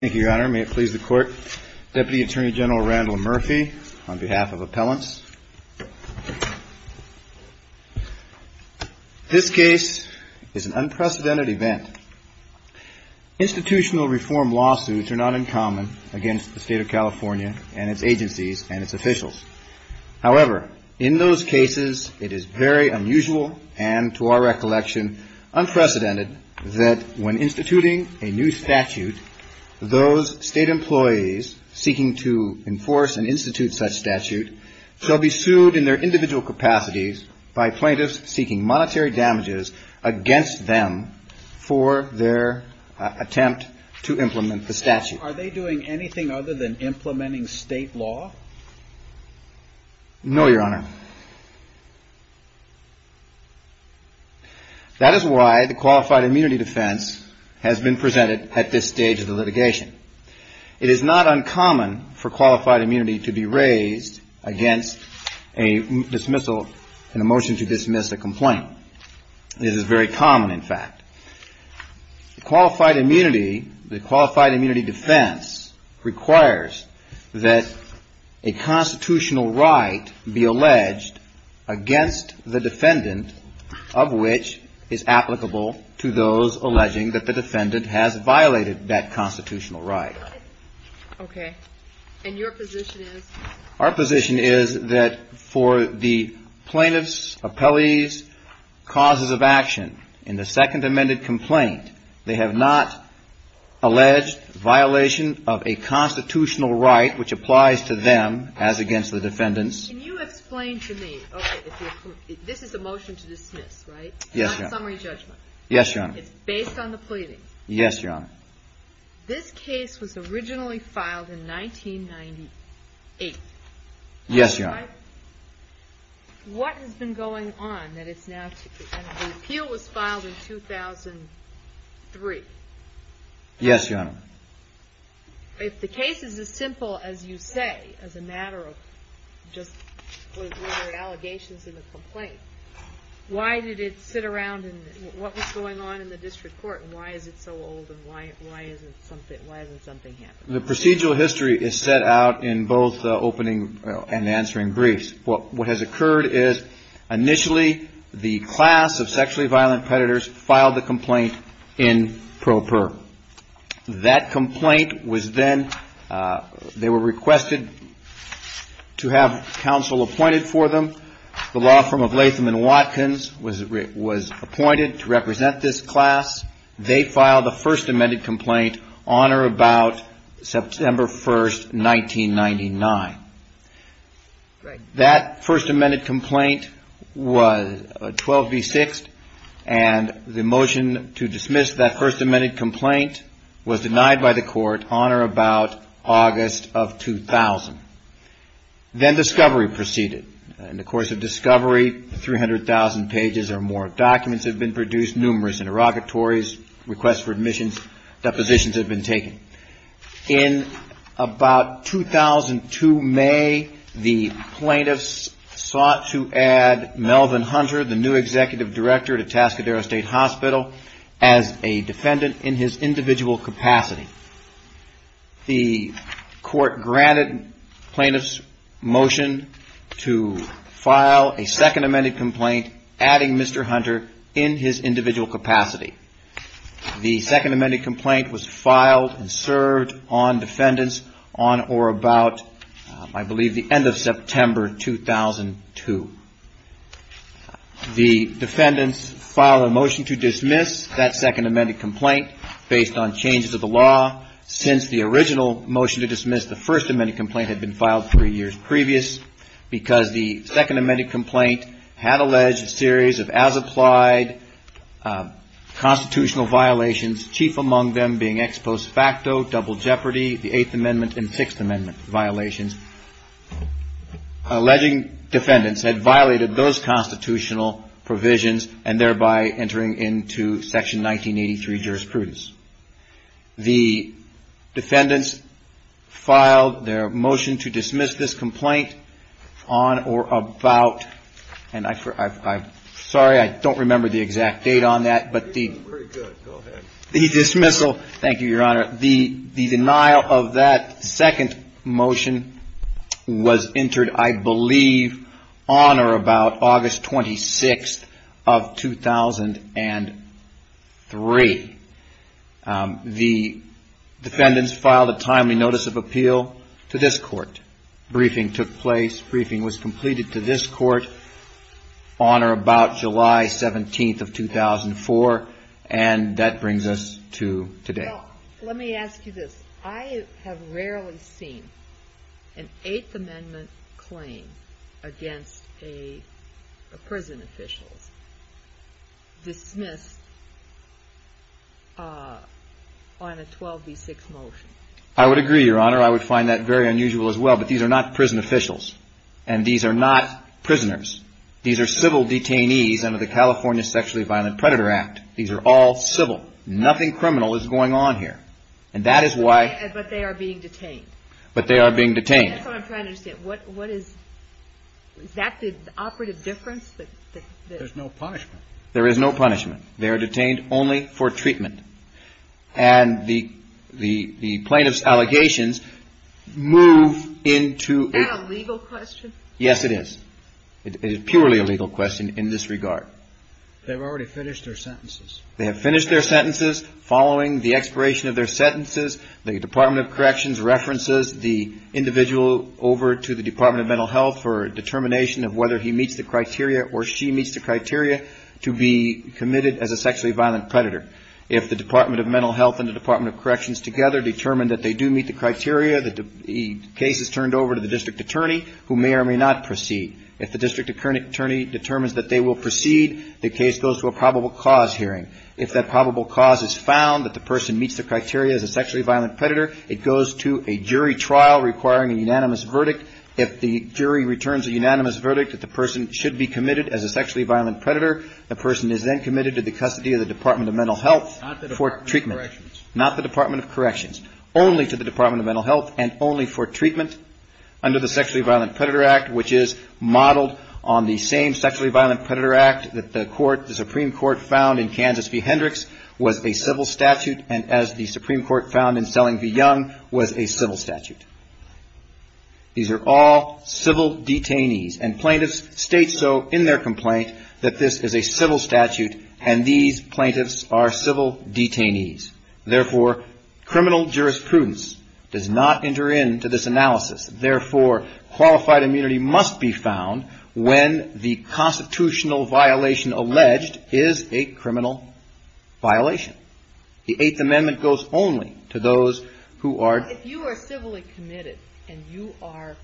Thank you, Your Honor. May it please the Court, Deputy Attorney General Randall Murphy, on behalf of Appellants. This case is an unprecedented event. Institutional reform lawsuits are not uncommon against the State of California and its agencies and its officials. However, in those cases, it is very unusual and, to our recollection, unprecedented that when instituting a new statute, those State employees seeking to enforce and institute such statute shall be sued in their individual capacities by plaintiffs seeking monetary damages against them for their attempt to implement the statute. Are they doing anything other than implementing State law? No, Your Honor. That is why the Qualified Immunity Defense has been presented at this stage of the litigation. It is not uncommon for Qualified Immunity to be raised against a dismissal, a motion to dismiss a complaint. This is very common, in fact. The Qualified Immunity Defense requires that a constitutional right be alleged against the defendant of which is applicable to those alleging that the defendant has violated that constitutional right. Okay. And your position is? Our position is that for the plaintiff's, appellee's causes of action in the second amended complaint, they have not alleged violation of a constitutional right which applies to them as against the defendants. Can you explain to me, okay, this is a motion to dismiss, right? Yes, Your Honor. It's not a summary judgment. Yes, Your Honor. It's based on the pleadings. Yes, Your Honor. This case was originally filed in 1998. Yes, Your Honor. What has been going on that it's now, the appeal was filed in 2003. Yes, Your Honor. If the case is as simple as you say, as a matter of just allegations in the complaint, why did it sit around and what was going on in the district court and why is it so old and why isn't something happening? The procedural history is set out in both the opening and answering briefs. What has occurred is initially the class of sexually violent predators filed the complaint in pro per. That complaint was then, they were requested to have counsel appointed for them. The law firm of Latham and Watkins was appointed to represent this class. They filed the first amended complaint on or about September 1, 1999. That first amended complaint was 12 v. 6 and the motion to dismiss that first amended complaint was denied by the court on or about August of 2000. Then discovery proceeded. In the course of discovery, 300,000 pages or more of documents have been produced, numerous interrogatories, requests for admissions, depositions have been taken. In about 2002 May, the plaintiffs sought to add Melvin Hunter, the new executive director at Atascadero State Hospital, as a defendant in his individual capacity. The court granted plaintiffs motion to file a second amended complaint adding Mr. Hunter in his individual capacity. The second amended complaint was filed and served on defendants on or about I believe the end of September 2002. The defendants filed a motion to dismiss that second amended complaint based on changes of the law. Since the original motion to dismiss the first amended complaint had been filed three years previous because the second amended complaint had alleged a series of as-applied constitutional violations, chief among them being ex post facto, double jeopardy, the Eighth Amendment and Sixth Amendment violations. Alleging defendants had violated those constitutional provisions and thereby entering into Section 1983 jurisprudence. The defendants filed their motion to dismiss this complaint on or about and I'm sorry I don't remember the exact date on that but the dismissal, thank you your honor, the denial of that second motion was entered I believe on or about August 26th of 2003. The defendants filed a timely notice of appeal to this court. Briefing took place, briefing was completed to this court on or about July 17th of 2004 and that brings us to today. Well let me ask you this, I have rarely seen an Eighth Amendment claim against a prison official dismissed on a 12b6 motion. I would agree your honor, I would find that very unusual as well but these are not prison officials and these are not prisoners. These are civil detainees under the California Sexually Violent Predator Act. These are all civil, nothing criminal is going on here and that is why. But they are being detained. But they are being detained. That's what I'm trying to understand, what is, is that the operative difference? There's no punishment. There is no punishment, they are detained only for treatment and the plaintiff's allegations move into. Is that a legal question? Yes it is. It is purely a legal question in this regard. They've already finished their sentences. They have finished their sentences following the expiration of their sentences. The Department of Corrections references the individual over to the Department of Mental Health for determination of whether he meets the criteria or she meets the criteria to be committed as a sexually violent predator. If the Department of Mental Health and the Department of Corrections together determine that they do meet the criteria, the case is turned over to the district attorney who may or may not proceed. If the district attorney determines that they will proceed, the case goes to a probable cause hearing. If that probable cause is found that the person meets the criteria as a sexually violent predator, it goes to a jury trial requiring a unanimous verdict. If the jury returns a unanimous verdict that the person should be committed as a sexually violent predator, the person is then committed to the custody of the Department of Mental Health for treatment. Not the Department of Corrections. Only to the Department of Mental Health and only for treatment under the Sexually Violent Predator Act, which is modeled on the same Sexually Violent Predator Act that the Supreme Court found in Kansas v. Hendricks was a civil statute and as the Supreme Court found in Selling v. Young was a civil statute. These are all civil detainees and plaintiffs state so in their complaint that this is a civil statute and these plaintiffs are civil detainees. Therefore, criminal jurisprudence does not enter into this analysis. Therefore, qualified immunity must be found when the constitutional violation alleged is a criminal violation. The Eighth Amendment goes only to those who are. If you are civilly committed and you are,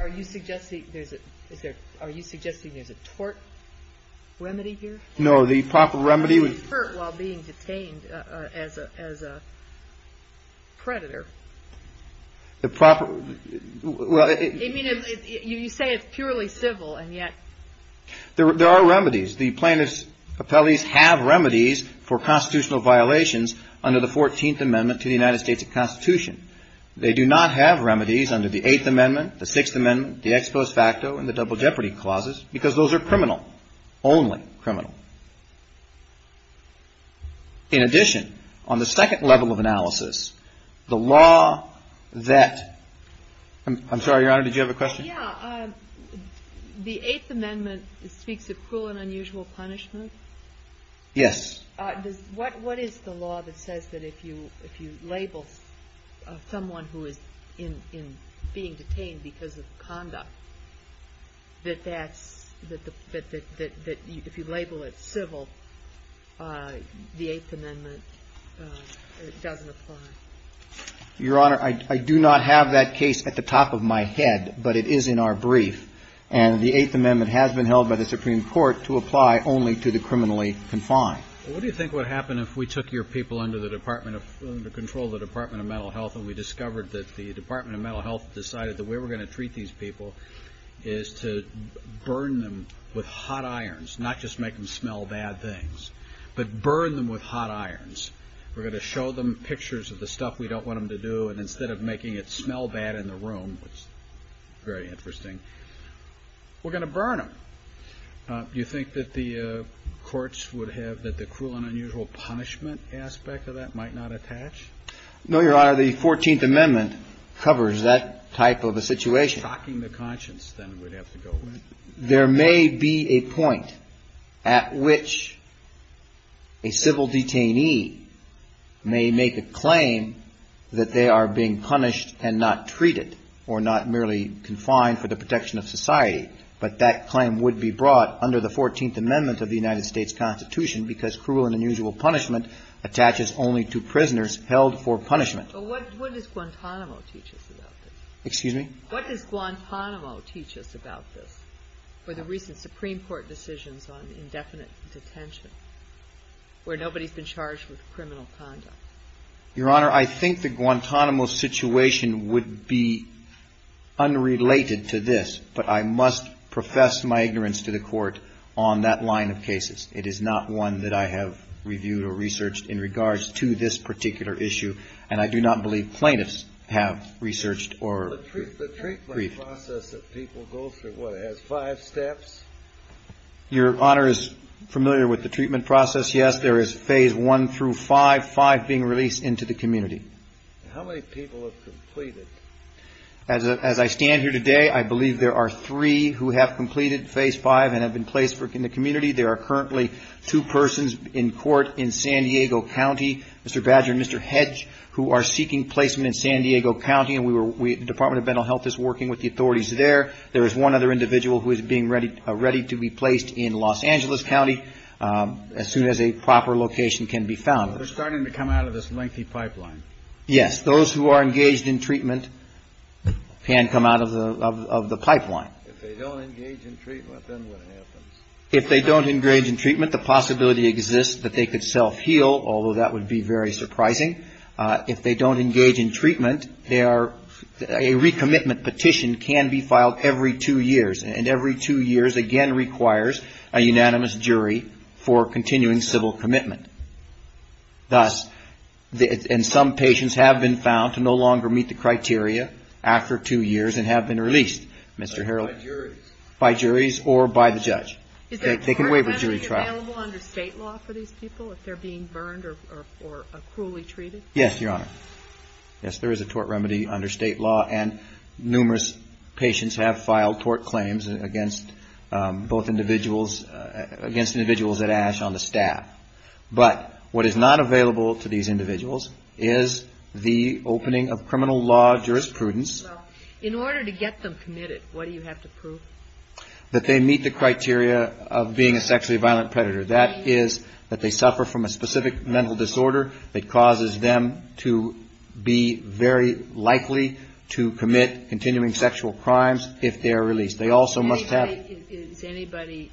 are you suggesting there's a tort remedy here? No, the proper remedy was. Tort while being detained as a predator. The proper. You say it's purely civil and yet. There are remedies. The plaintiffs' appellees have remedies for constitutional violations under the 14th Amendment to the United States Constitution. They do not have remedies under the Eighth Amendment, the Sixth Amendment, the Ex Post Facto and the Double Jeopardy clauses because those are criminal, only criminal. In addition, on the second level of analysis, the law that, I'm sorry, Your Honor, did you have a question? Yeah. The Eighth Amendment speaks of cruel and unusual punishment. Yes. What is the law that says that if you, if you label someone who is in, in being detained because of conduct, that that's, that, that, that, that if you label it civil, the Eighth Amendment doesn't apply? Your Honor, I do not have that case at the top of my head, but it is in our brief. And the Eighth Amendment has been held by the Supreme Court to apply only to the criminally confined. What do you think would happen if we took your people under the Department of, under control of the Department of Mental Health and we discovered that the Department of Mental Health decided that we were going to treat these people is to burn them with hot irons, not just make them smell bad things, but burn them with hot irons. We're going to show them pictures of the stuff we don't want them to do, and instead of making it smell bad in the room, which is very interesting, we're going to burn them. Do you think that the courts would have, that the cruel and unusual punishment aspect of that might not attach? No, Your Honor. The Fourteenth Amendment covers that type of a situation. Stalking the conscience, then, would have to go with. There may be a point at which a civil detainee may make a claim that they are being punished and not treated or not merely confined for the protection of society. But that claim would be brought under the Fourteenth Amendment of the United States Constitution because cruel and unusual punishment attaches only to prisoners held for punishment. But what does Guantanamo teach us about this? Excuse me? What does Guantanamo teach us about this for the recent Supreme Court decisions on indefinite detention where nobody's been charged with criminal conduct? Your Honor, I think the Guantanamo situation would be unrelated to this, but I must profess my ignorance to the Court on that line of cases. It is not one that I have reviewed or researched in regards to this particular issue, and I do not believe plaintiffs have researched or briefed. The treatment process that people go through, what, has five steps? Your Honor is familiar with the treatment process? Yes, there is phase one through five, five being released into the community. How many people have completed? As I stand here today, I believe there are three who have completed phase five and have been placed in the community. There are currently two persons in court in San Diego County, Mr. Badger and Mr. Hedge, who are seeking placement in San Diego County, and the Department of Mental Health is working with the authorities there. There is one other individual who is being ready to be placed in Los Angeles County as soon as a proper location can be found. They're starting to come out of this lengthy pipeline. Yes, those who are engaged in treatment can come out of the pipeline. If they don't engage in treatment, then what happens? If they don't engage in treatment, the possibility exists that they could self-heal, although that would be very surprising. If they don't engage in treatment, they are, a recommitment petition can be filed every two years, and every two years again requires a unanimous jury for continuing civil commitment. Thus, and some patients have been found to no longer meet the criteria after two years and have been released, Mr. Harrell. By juries. By juries or by the judge. They can waive a jury trial. Is it available under state law for these people if they're being burned or cruelly treated? Yes, Your Honor. Yes, there is a tort remedy under state law, and numerous patients have filed tort claims against both individuals, against individuals at ASH on the staff. But what is not available to these individuals is the opening of criminal law jurisprudence. In order to get them committed, what do you have to prove? That they meet the criteria of being a sexually violent predator. That is that they suffer from a specific mental disorder that causes them to be very likely to commit continuing sexual crimes if they are released. They also must have. Is anybody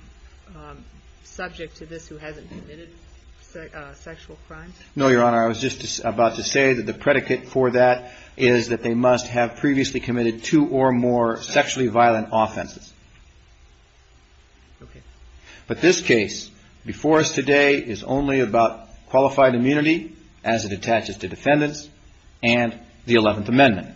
subject to this who hasn't committed sexual crimes? No, Your Honor. Your Honor, I was just about to say that the predicate for that is that they must have previously committed two or more sexually violent offenses. But this case before us today is only about qualified immunity as it attaches to defendants and the Eleventh Amendment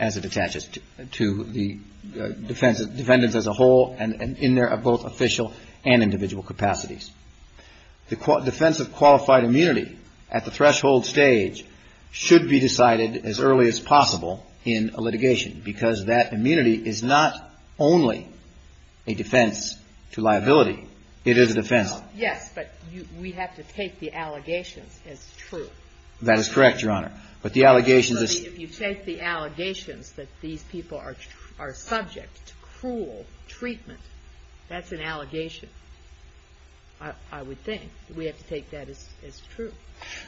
as it attaches to the defendants as a whole and in their both official and individual capacities. The defense of qualified immunity at the threshold stage should be decided as early as possible in a litigation because that immunity is not only a defense to liability. It is a defense. Yes, but we have to take the allegations as true. That is correct, Your Honor. But the allegations is. If you take the allegations that these people are subject to cruel treatment, that's an allegation. I would think we have to take that as true.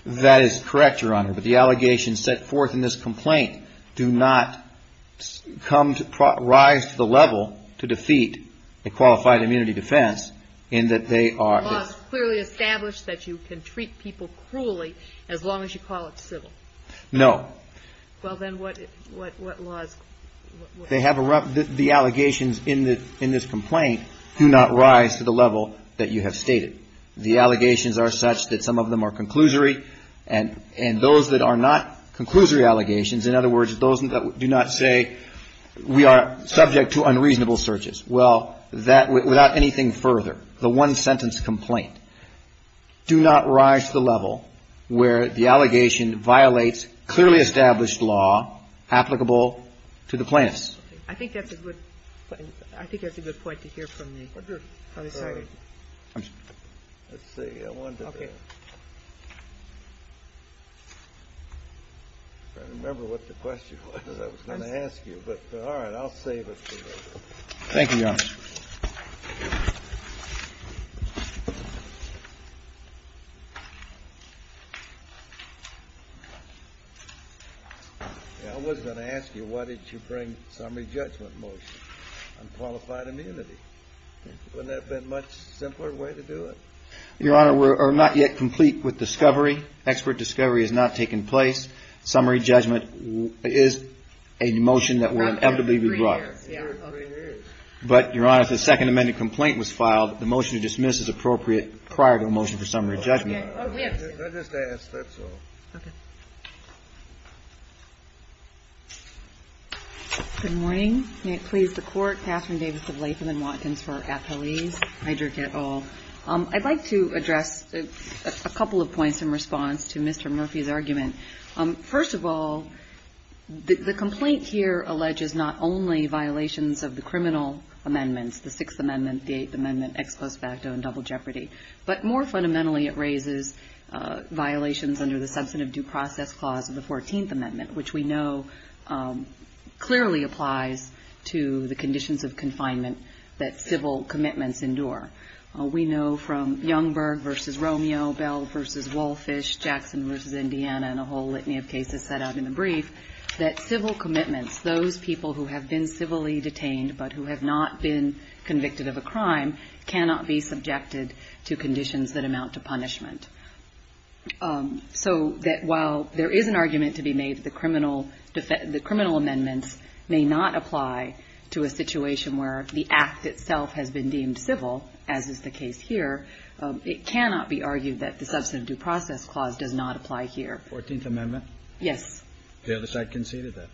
That is correct, Your Honor. But the allegations set forth in this complaint do not rise to the level to defeat a qualified immunity defense in that they are. The law is clearly established that you can treat people cruelly as long as you call it civil. No. Well, then what laws. They have the allegations in this complaint do not rise to the level that you have stated. The allegations are such that some of them are conclusory and those that are not conclusory allegations, in other words, those that do not say we are subject to unreasonable searches. Well, that without anything further, the one-sentence complaint do not rise to the level where the allegation violates clearly established law applicable to the plaintiffs. I think that's a good point. I think that's a good point to hear from the group. Let's see. Okay. I remember what the question was I was going to ask you, but all right, I'll save it for later. Thank you, Your Honor. I was going to ask you, why did you bring summary judgment motion on qualified immunity? Wouldn't that have been a much simpler way to do it? Your Honor, we're not yet complete with discovery. Expert discovery has not taken place. Summary judgment is a motion that will inevitably be brought. But, Your Honor, if the Second Amendment complaint was filed, the motion to dismiss is appropriate prior to a motion for summary judgment. I just asked. That's all. Okay. Good morning. May it please the Court. Katherine Davis of Latham and Watkins for Appellees. I'd like to address a couple of points in response to Mr. Murphy's argument. First of all, the complaint here alleges not only violations of the criminal amendments, the Sixth Amendment, the Eighth Amendment, ex post facto and double jeopardy, but more fundamentally it raises violations under the substantive due process clause of the Fourteenth Amendment, which we know clearly applies to the conditions of confinement that civil commitments endure. We know from Youngberg v. Romeo, Bell v. Wallfish, Jackson v. Indiana, and a whole litany of cases set out in the brief, that civil commitments, those people who have been civilly detained but who have not been convicted of a crime, cannot be subjected to conditions that amount to punishment. So that while there is an argument to be made that the criminal amendments may not apply to a situation where the act itself has been deemed civil, as is the case here, it cannot be argued that the substantive due process clause does not apply here. Fourteenth Amendment? Yes. The other side conceded that?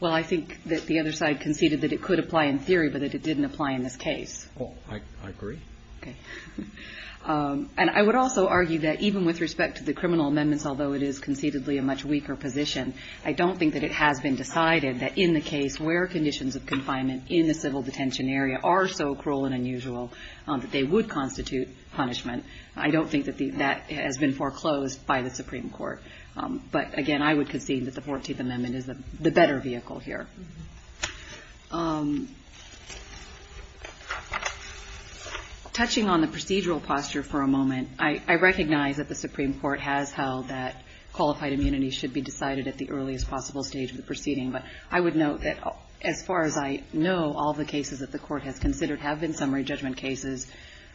Well, I think that the other side conceded that it could apply in theory but that it didn't apply in this case. Oh, I agree. Okay. And I would also argue that even with respect to the criminal amendments, although it is concededly a much weaker position, I don't think that it has been decided that in the case where conditions of confinement in the civil detention area are so cruel and unusual that they would constitute punishment. I don't think that that has been foreclosed by the Supreme Court. But, again, I would concede that the Fourteenth Amendment is the better vehicle here. I recognize that the Supreme Court has held that qualified immunity should be decided at the earliest possible stage of the proceeding, but I would note that as far as I know, all the cases that the Court has considered have been summary judgment cases.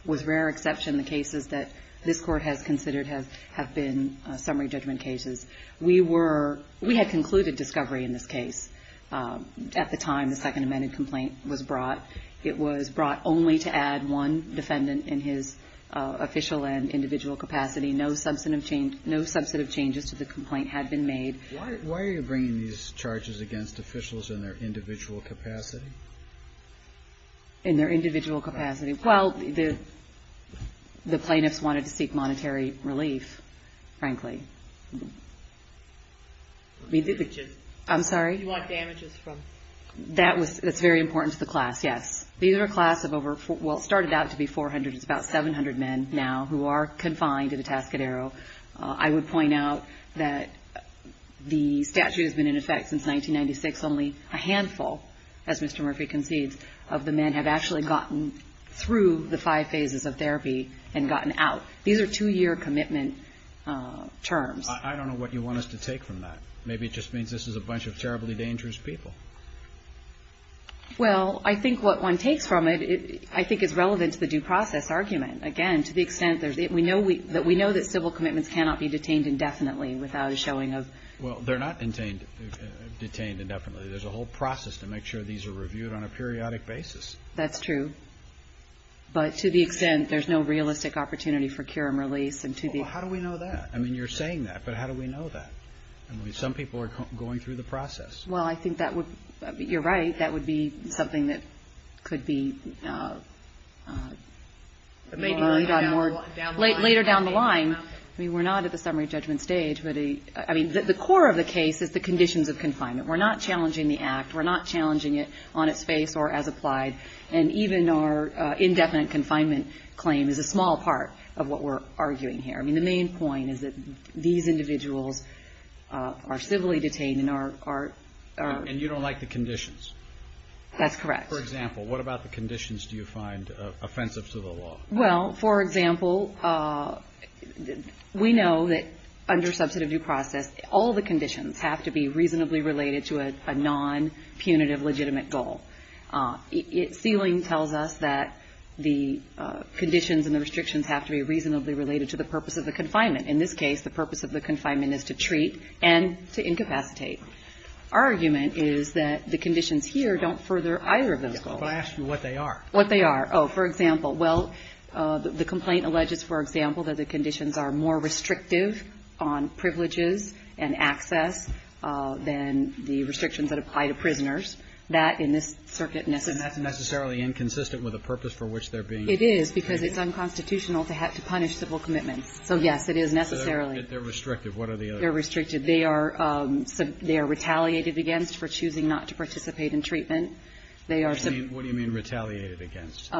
With rare exception, the cases that this Court has considered have been summary judgment cases. We were ‑‑ we had concluded discovery in this case at the time the Second Amendment complaint was brought. It was brought only to add one defendant in his official and individual capacity. No substantive changes to the complaint had been made. Why are you bringing these charges against officials in their individual capacity? In their individual capacity? Well, the plaintiffs wanted to seek monetary relief, frankly. I'm sorry? You want damages from? That's very important to the class, yes. These are a class of over ‑‑ well, it started out to be 400. It's about 700 men now who are confined at Atascadero. I would point out that the statute has been in effect since 1996. Only a handful, as Mr. Murphy concedes, of the men have actually gotten through the five phases of therapy and gotten out. These are two‑year commitment terms. I don't know what you want us to take from that. Maybe it just means this is a bunch of terribly dangerous people. Well, I think what one takes from it, I think, is relevant to the due process argument. Again, to the extent that we know that civil commitments cannot be detained indefinitely without a showing of ‑‑ Well, they're not detained indefinitely. There's a whole process to make sure these are reviewed on a periodic basis. That's true. But to the extent there's no realistic opportunity for cure and release and to be ‑‑ Well, how do we know that? I mean, you're saying that, but how do we know that? I mean, some people are going through the process. Well, I think that would ‑‑ you're right. That would be something that could be more ‑‑ Maybe down the line. Later down the line. I mean, we're not at the summary judgment stage. I mean, the core of the case is the conditions of confinement. We're not challenging the act. We're not challenging it on its face or as applied. And even our indefinite confinement claim is a small part of what we're arguing here. I mean, the main point is that these individuals are civilly detained and are ‑‑ And you don't like the conditions. That's correct. For example, what about the conditions do you find offensive to the law? Well, for example, we know that under substantive due process, all the conditions have to be reasonably related to a nonpunitive legitimate goal. Ceiling tells us that the conditions and the restrictions have to be reasonably related to the purpose of the confinement. In this case, the purpose of the confinement is to treat and to incapacitate. Our argument is that the conditions here don't further either of those goals. Well, I asked you what they are. What they are. Oh, for example. Well, the complaint alleges, for example, that the conditions are more restrictive on privileges and access than the restrictions that apply to prisoners. That, in this circuit, necessitates ‑‑ And that's necessarily inconsistent with the purpose for which they're being ‑‑ It is, because it's unconstitutional to punish civil commitments. So, yes, it is necessarily. They're restrictive. What are the others? They're restricted. They are retaliated against for choosing not to participate in treatment. What do you mean retaliated against?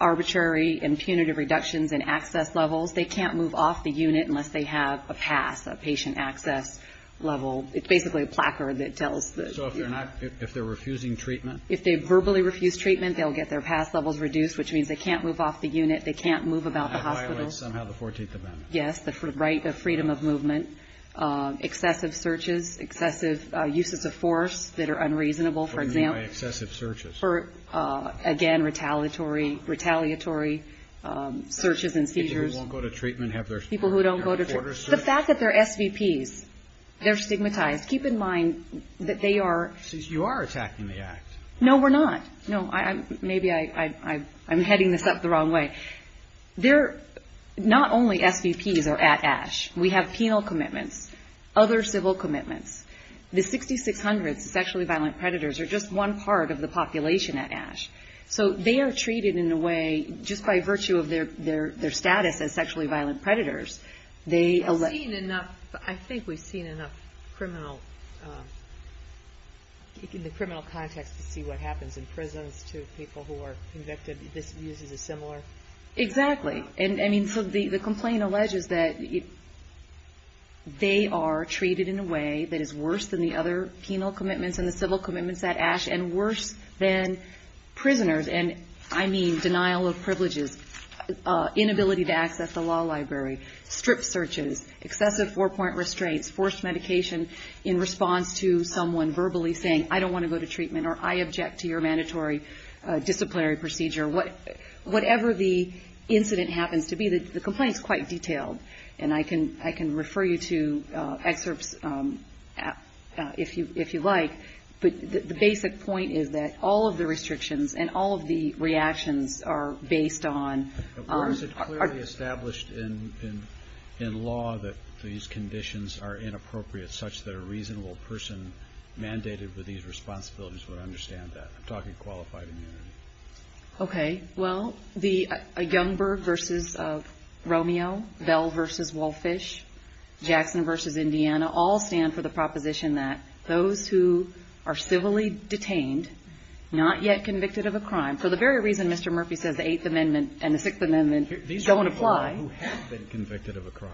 Arbitrary and punitive reductions in access levels. They can't move off the unit unless they have a pass, a patient access level. It's basically a placard that tells ‑‑ So if they're refusing treatment? If they verbally refuse treatment, they'll get their pass levels reduced, which means they can't move off the unit, they can't move about the hospital. That violates somehow the 14th Amendment. Yes, the freedom of movement. Excessive searches, excessive uses of force that are unreasonable, for example. What do you mean by excessive searches? Again, retaliatory searches and seizures. People who won't go to treatment have their border searched? The fact that they're SVPs, they're stigmatized. Keep in mind that they are ‑‑ So you are attacking the Act. No, we're not. Maybe I'm heading this up the wrong way. Not only SVPs are at ASH. We have penal commitments, other civil commitments. The 6600 sexually violent predators are just one part of the population at ASH. So they are treated in a way, just by virtue of their status as sexually violent predators. I think we've seen enough in the criminal context to see what happens in prisons to people who are convicted. These abuses are similar. Exactly. So the complaint alleges that they are treated in a way that is worse than the other penal commitments and the civil commitments at ASH, and worse than prisoners. And I mean denial of privileges, inability to access the law library, strip searches, excessive four‑point restraints, forced medication in response to someone verbally saying, I don't want to go to treatment, or I object to your mandatory disciplinary procedure. Whatever the incident happens to be, the complaint is quite detailed. And I can refer you to excerpts if you like. But the basic point is that all of the restrictions and all of the reactions are based on ‑‑ Or is it clearly established in law that these conditions are inappropriate, such that a reasonable person mandated with these responsibilities would understand that? I'm talking qualified immunity. Okay. Well, Youngberg versus Romeo, Bell versus Wolffish, Jackson versus Indiana, all stand for the proposition that those who are civilly detained, not yet convicted of a crime, for the very reason Mr. Murphy says, the Eighth Amendment and the Sixth Amendment don't apply. These are people who have been convicted of a crime.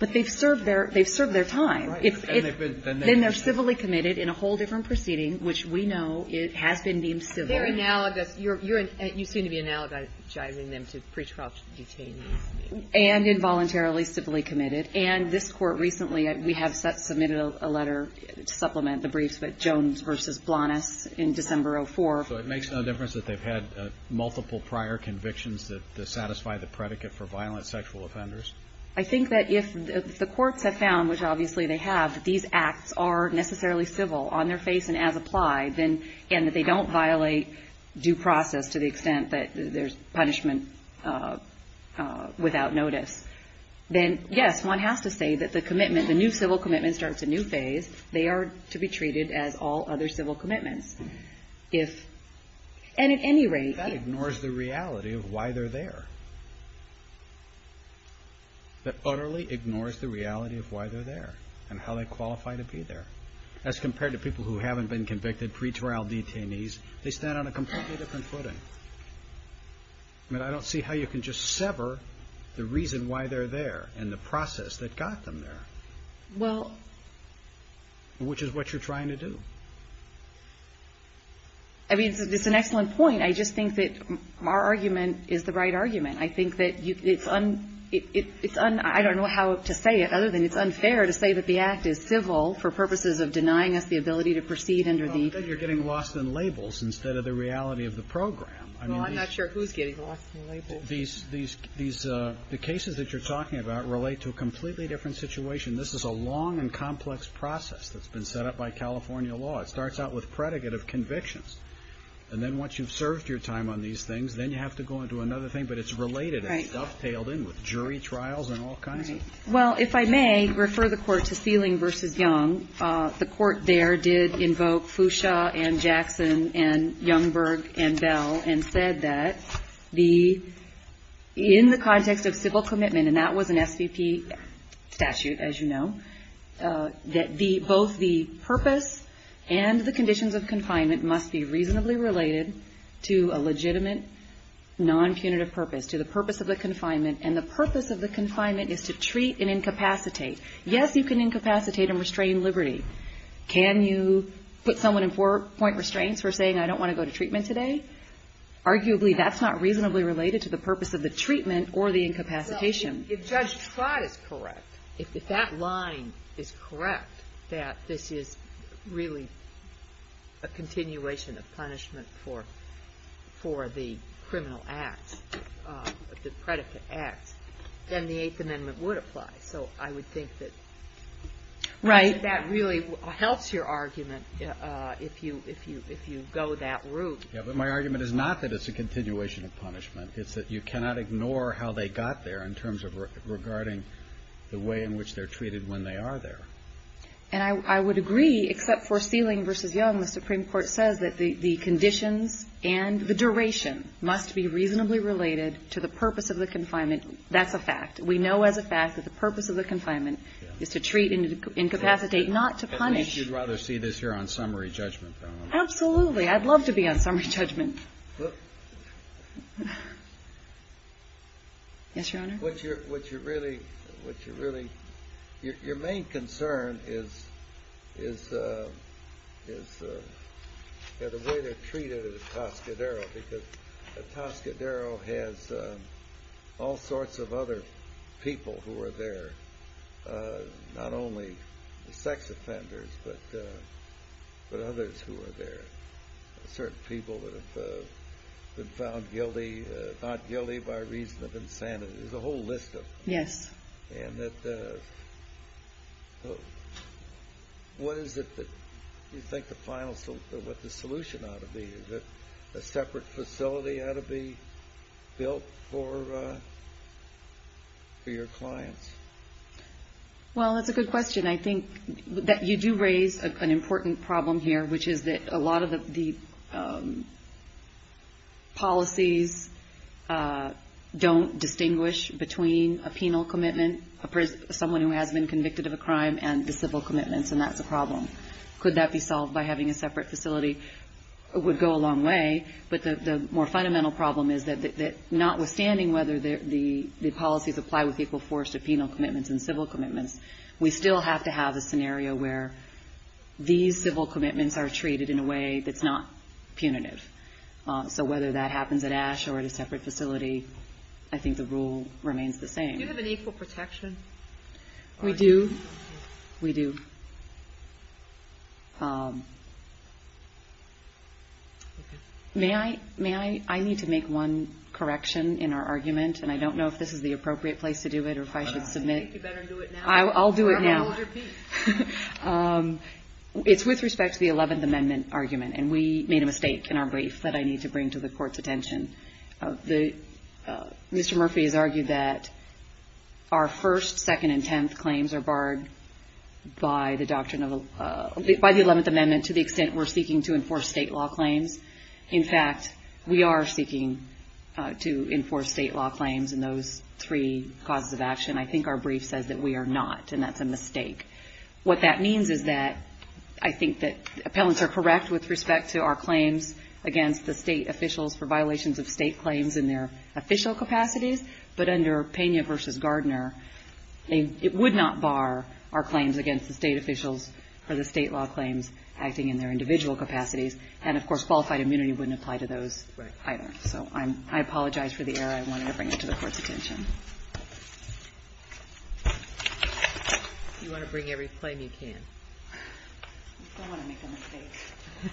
But they've served their ‑‑ they've served their time. Right. And they've been ‑‑ Then they're civilly committed in a whole different proceeding, which we know has been deemed civil. They're analogous. You seem to be analogizing them to pretrial detainees. And involuntarily civilly committed. And this Court recently, we have submitted a letter to supplement the briefs, but Jones versus Blanes in December of 2004. So it makes no difference that they've had multiple prior convictions that satisfy the predicate for violent sexual offenders? I think that if the courts have found, which obviously they have, that these acts are necessarily civil on their face and as applied, and that they don't violate due process to the extent that there's punishment without notice, then yes, one has to say that the commitment, the new civil commitment starts a new phase. They are to be treated as all other civil commitments. If ‑‑ and at any rate ‑‑ That ignores the reality of why they're there. That utterly ignores the reality of why they're there and how they qualify to be there. As compared to people who haven't been convicted, pretrial detainees, they stand on a completely different footing. I mean, I don't see how you can just sever the reason why they're there and the process that got them there. Well ‑‑ Which is what you're trying to do. I mean, it's an excellent point. I just think that our argument is the right argument. I think that it's ‑‑ I don't know how to say it other than it's unfair to say that the act is civil for purposes of denying us the ability to proceed under the ‑‑ I think that you're getting lost in labels instead of the reality of the program. Well, I'm not sure who's getting lost in labels. These ‑‑ the cases that you're talking about relate to a completely different situation. This is a long and complex process that's been set up by California law. It starts out with predicate of convictions. And then once you've served your time on these things, then you have to go into another thing, but it's related and dovetailed in with jury trials and all kinds of ‑‑ Well, if I may refer the Court to Seeling v. Young, the Court there did invoke Fuchsia and Jackson and Youngberg and Bell and said that the ‑‑ in the context of civil commitment, and that was an SVP statute, as you know, that the ‑‑ both the purpose and the conditions of confinement must be reasonably related to a legitimate non‑punitive purpose, to the purpose of the confinement. And the purpose of the confinement is to treat and incapacitate. Yes, you can incapacitate and restrain liberty. Can you put someone in four‑point restraints for saying, I don't want to go to treatment today? Arguably, that's not reasonably related to the purpose of the treatment or the incapacitation. Well, if Judge Trott is correct, if that line is correct, that this is really a continuation of punishment. Yes, but my argument is not that it's a continuation of punishment. It's that you cannot ignore how they got there in terms of regarding the way in which they're treated when they are there. And I would agree, except for Seeling v. Young, the Supreme Court says that the conditions and the duration must be reasonably related to the purpose of the confinement, and that's a fact. We know as a fact that the purpose of the confinement is to treat and incapacitate, not to punish. At least you'd rather see this here on summary judgment. Absolutely. I'd love to be on summary judgment. Yes, Your Honor? What you're really, what you're really, your main concern is the way they're treated at Toscadero has all sorts of other people who are there, not only the sex offenders, but others who are there, certain people who have been found guilty, not guilty by reason of insanity. There's a whole list of them. Yes. And what is it that you think the final, what the solution ought to be? Is it a separate facility ought to be built for your clients? Well, that's a good question. I think that you do raise an important problem here, which is that a lot of the policies don't distinguish between a penal commitment, someone who has been convicted of a crime, and the civil commitments, and that's a problem. Could that be solved by the, the more fundamental problem is that notwithstanding whether the policies apply with equal force to penal commitments and civil commitments, we still have to have a scenario where these civil commitments are treated in a way that's not punitive. So whether that happens at Ash or at a separate facility, I think the rule remains the same. Do you have an equal protection? We do. We do. May I, I need to make one correction in our argument, and I don't know if this is the appropriate place to do it or if I should submit. I think you better do it now. I'll do it now. Or I'm going to hold your piece. It's with respect to the Eleventh Amendment argument, and we made a mistake in our brief that I need to bring to the Court's attention. Mr. Murphy has argued that our first, second, and tenth claims are barred by the doctrine of, by the Eleventh Amendment to the extent we're seeking to enforce state law claims. In fact, we are seeking to enforce state law claims in those three causes of action. I think our brief says that we are not, and that's a mistake. What that means is that I think that appellants are correct with respect to our claims against the state officials for violations of state claims in their official capacities, but under Pena v. Gardner, it would not bar our claims against the state officials for the state law claims acting in their individual capacities. And, of course, qualified immunity wouldn't apply to those either. So I apologize for the error. I wanted to bring it to the Court's attention. You want to bring every claim you can. I don't want to make a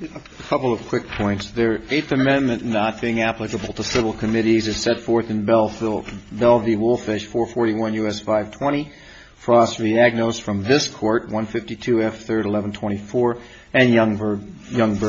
mistake. A couple of quick points. The Eighth Amendment not being applicable to civil committees is set forth in and Youngberg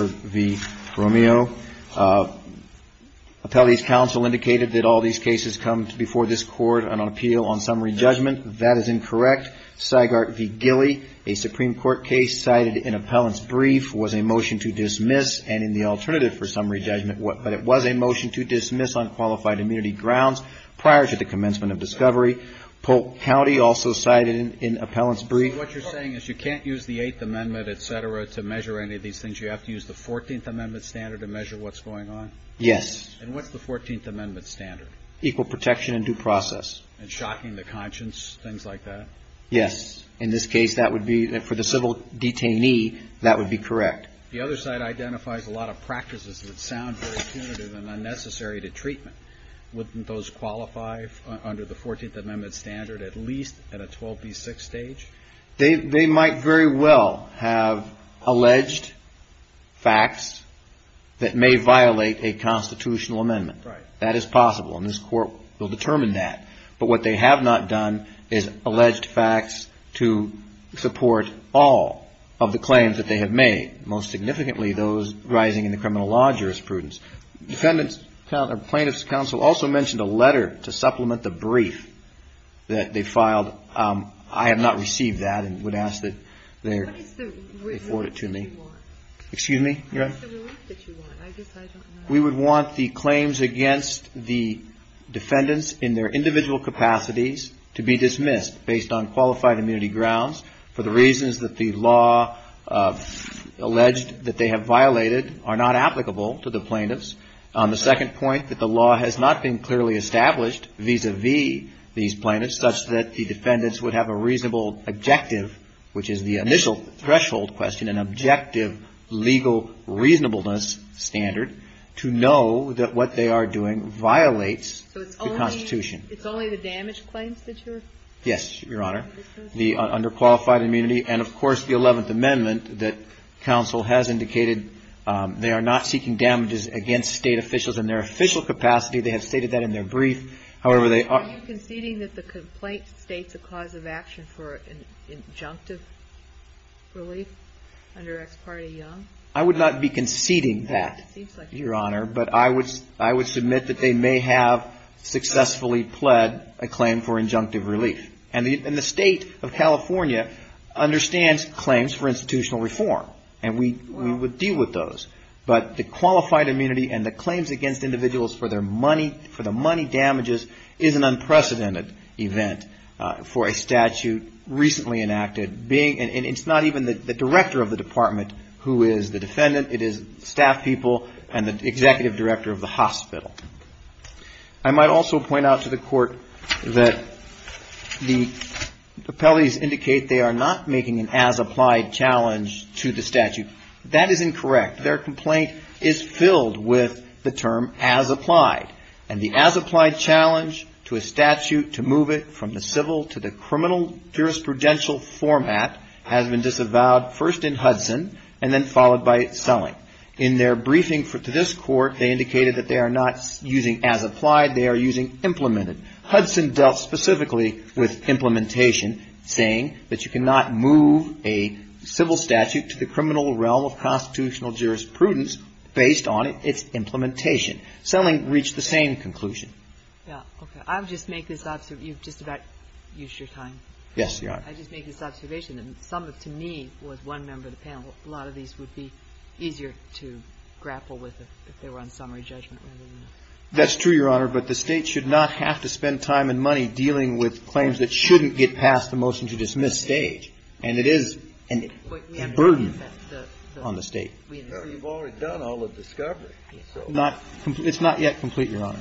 v. Romeo. Appellee's counsel indicated that all these cases come before this Court on appeal on summary judgment. That is incorrect. Sygart v. Gilly, a Supreme Court case cited in appellant's brief, was a motion to dismiss, and in the alternative for summary judgment, but it was a motion to dismiss on qualified immunity grounds prior to the commencement of discovery. Polk County also cited in appellant's brief. What you're saying is you can't use the Eighth Amendment, et cetera, to measure any of these things. You have to use the Fourteenth Amendment standard to measure what's going on? Yes. And what's the Fourteenth Amendment standard? Equal protection and due process. And shocking the conscience, things like that? Yes. In this case, that would be, for the civil detainee, that would be correct. The other side identifies a lot of practices that sound very punitive and unnecessary to treatment. Wouldn't those qualify under the Fourteenth Amendment standard, at least at a 12B6 stage? They might very well have alleged facts that may violate a constitutional amendment. Right. That is possible, and this Court will determine that. But what they have not done is alleged facts to support all of the claims that they have made, most significantly those arising in the criminal law jurisprudence. Plaintiff's counsel also mentioned a letter to supplement the brief that they filed. I have not received that and would ask that they forward it to me. What is the relief that you want? Excuse me? What is the relief that you want? I guess I don't know. We would want the claims against the defendants in their individual capacities to be dismissed, based on qualified immunity grounds, for the reasons that the law alleged that they have violated are not applicable to the plaintiffs. The second point, that the law has not been clearly established vis-à-vis these plaintiffs, such that the defendants would have a reasonable objective, which is the initial threshold question, an objective legal reasonableness standard, to know that what they are doing violates the Constitution. So it's only the damaged claims that you're? Yes, Your Honor. The underqualified immunity and, of course, the Eleventh Amendment that counsel has indicated they are not seeking damages against State officials in their official capacity. They have stated that in their brief. However, they are? Are you conceding that the complaint states a cause of action for injunctive relief under Ex parte Young? I would not be conceding that, Your Honor, but I would submit that they may have successfully pled a claim for injunctive relief. And the State of California understands claims for institutional reform, and we would deal with those. But the qualified immunity and the claims against individuals for their money, for the money damages is an unprecedented event for a statute recently enacted, and it's not even the director of the department who is the defendant. It is staff people and the executive director of the hospital. I might also point out to the court that the appellees indicate they are not making an as-applied challenge to the statute. That is incorrect. Their complaint is filled with the term as-applied, and the as-applied challenge to a statute to move it from the civil to the criminal jurisprudential format has been disavowed first in Hudson and then followed by selling. In their briefing to this Court, they indicated that they are not using as-applied. They are using implemented. Hudson dealt specifically with implementation, saying that you cannot move a civil statute to the criminal realm of constitutional jurisprudence based on its implementation. Selling reached the same conclusion. Yeah, okay. I'll just make this observation. You've just about used your time. Yes, Your Honor. I'll just make this observation. Some, to me, was one member of the panel. A lot of these would be easier to grapple with if they were on summary judgment. That's true, Your Honor. But the State should not have to spend time and money dealing with claims that shouldn't get past the motion to dismiss stage. And it is a burden on the State. You've already done all of discovery. It's not yet complete, Your Honor.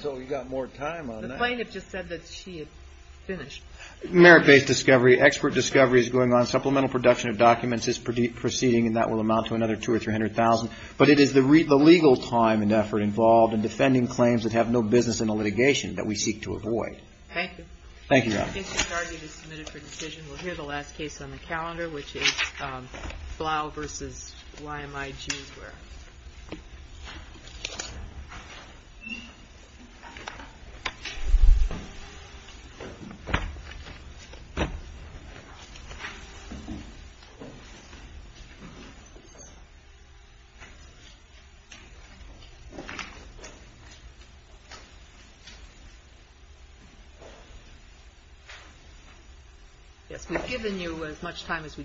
So you've got more time on that. The plaintiff just said that she had finished. Merit-based discovery, expert discovery is going on. Supplemental production of documents is proceeding, and that will amount to another $200,000 or $300,000. But it is the legal time and effort involved in defending claims that have no business in a litigation that we seek to avoid. Thank you, Your Honor. If the target is submitted for decision, we'll hear the last case on the calendar, which is Blau v. YMIG. Yes, we've given you as much time as we can.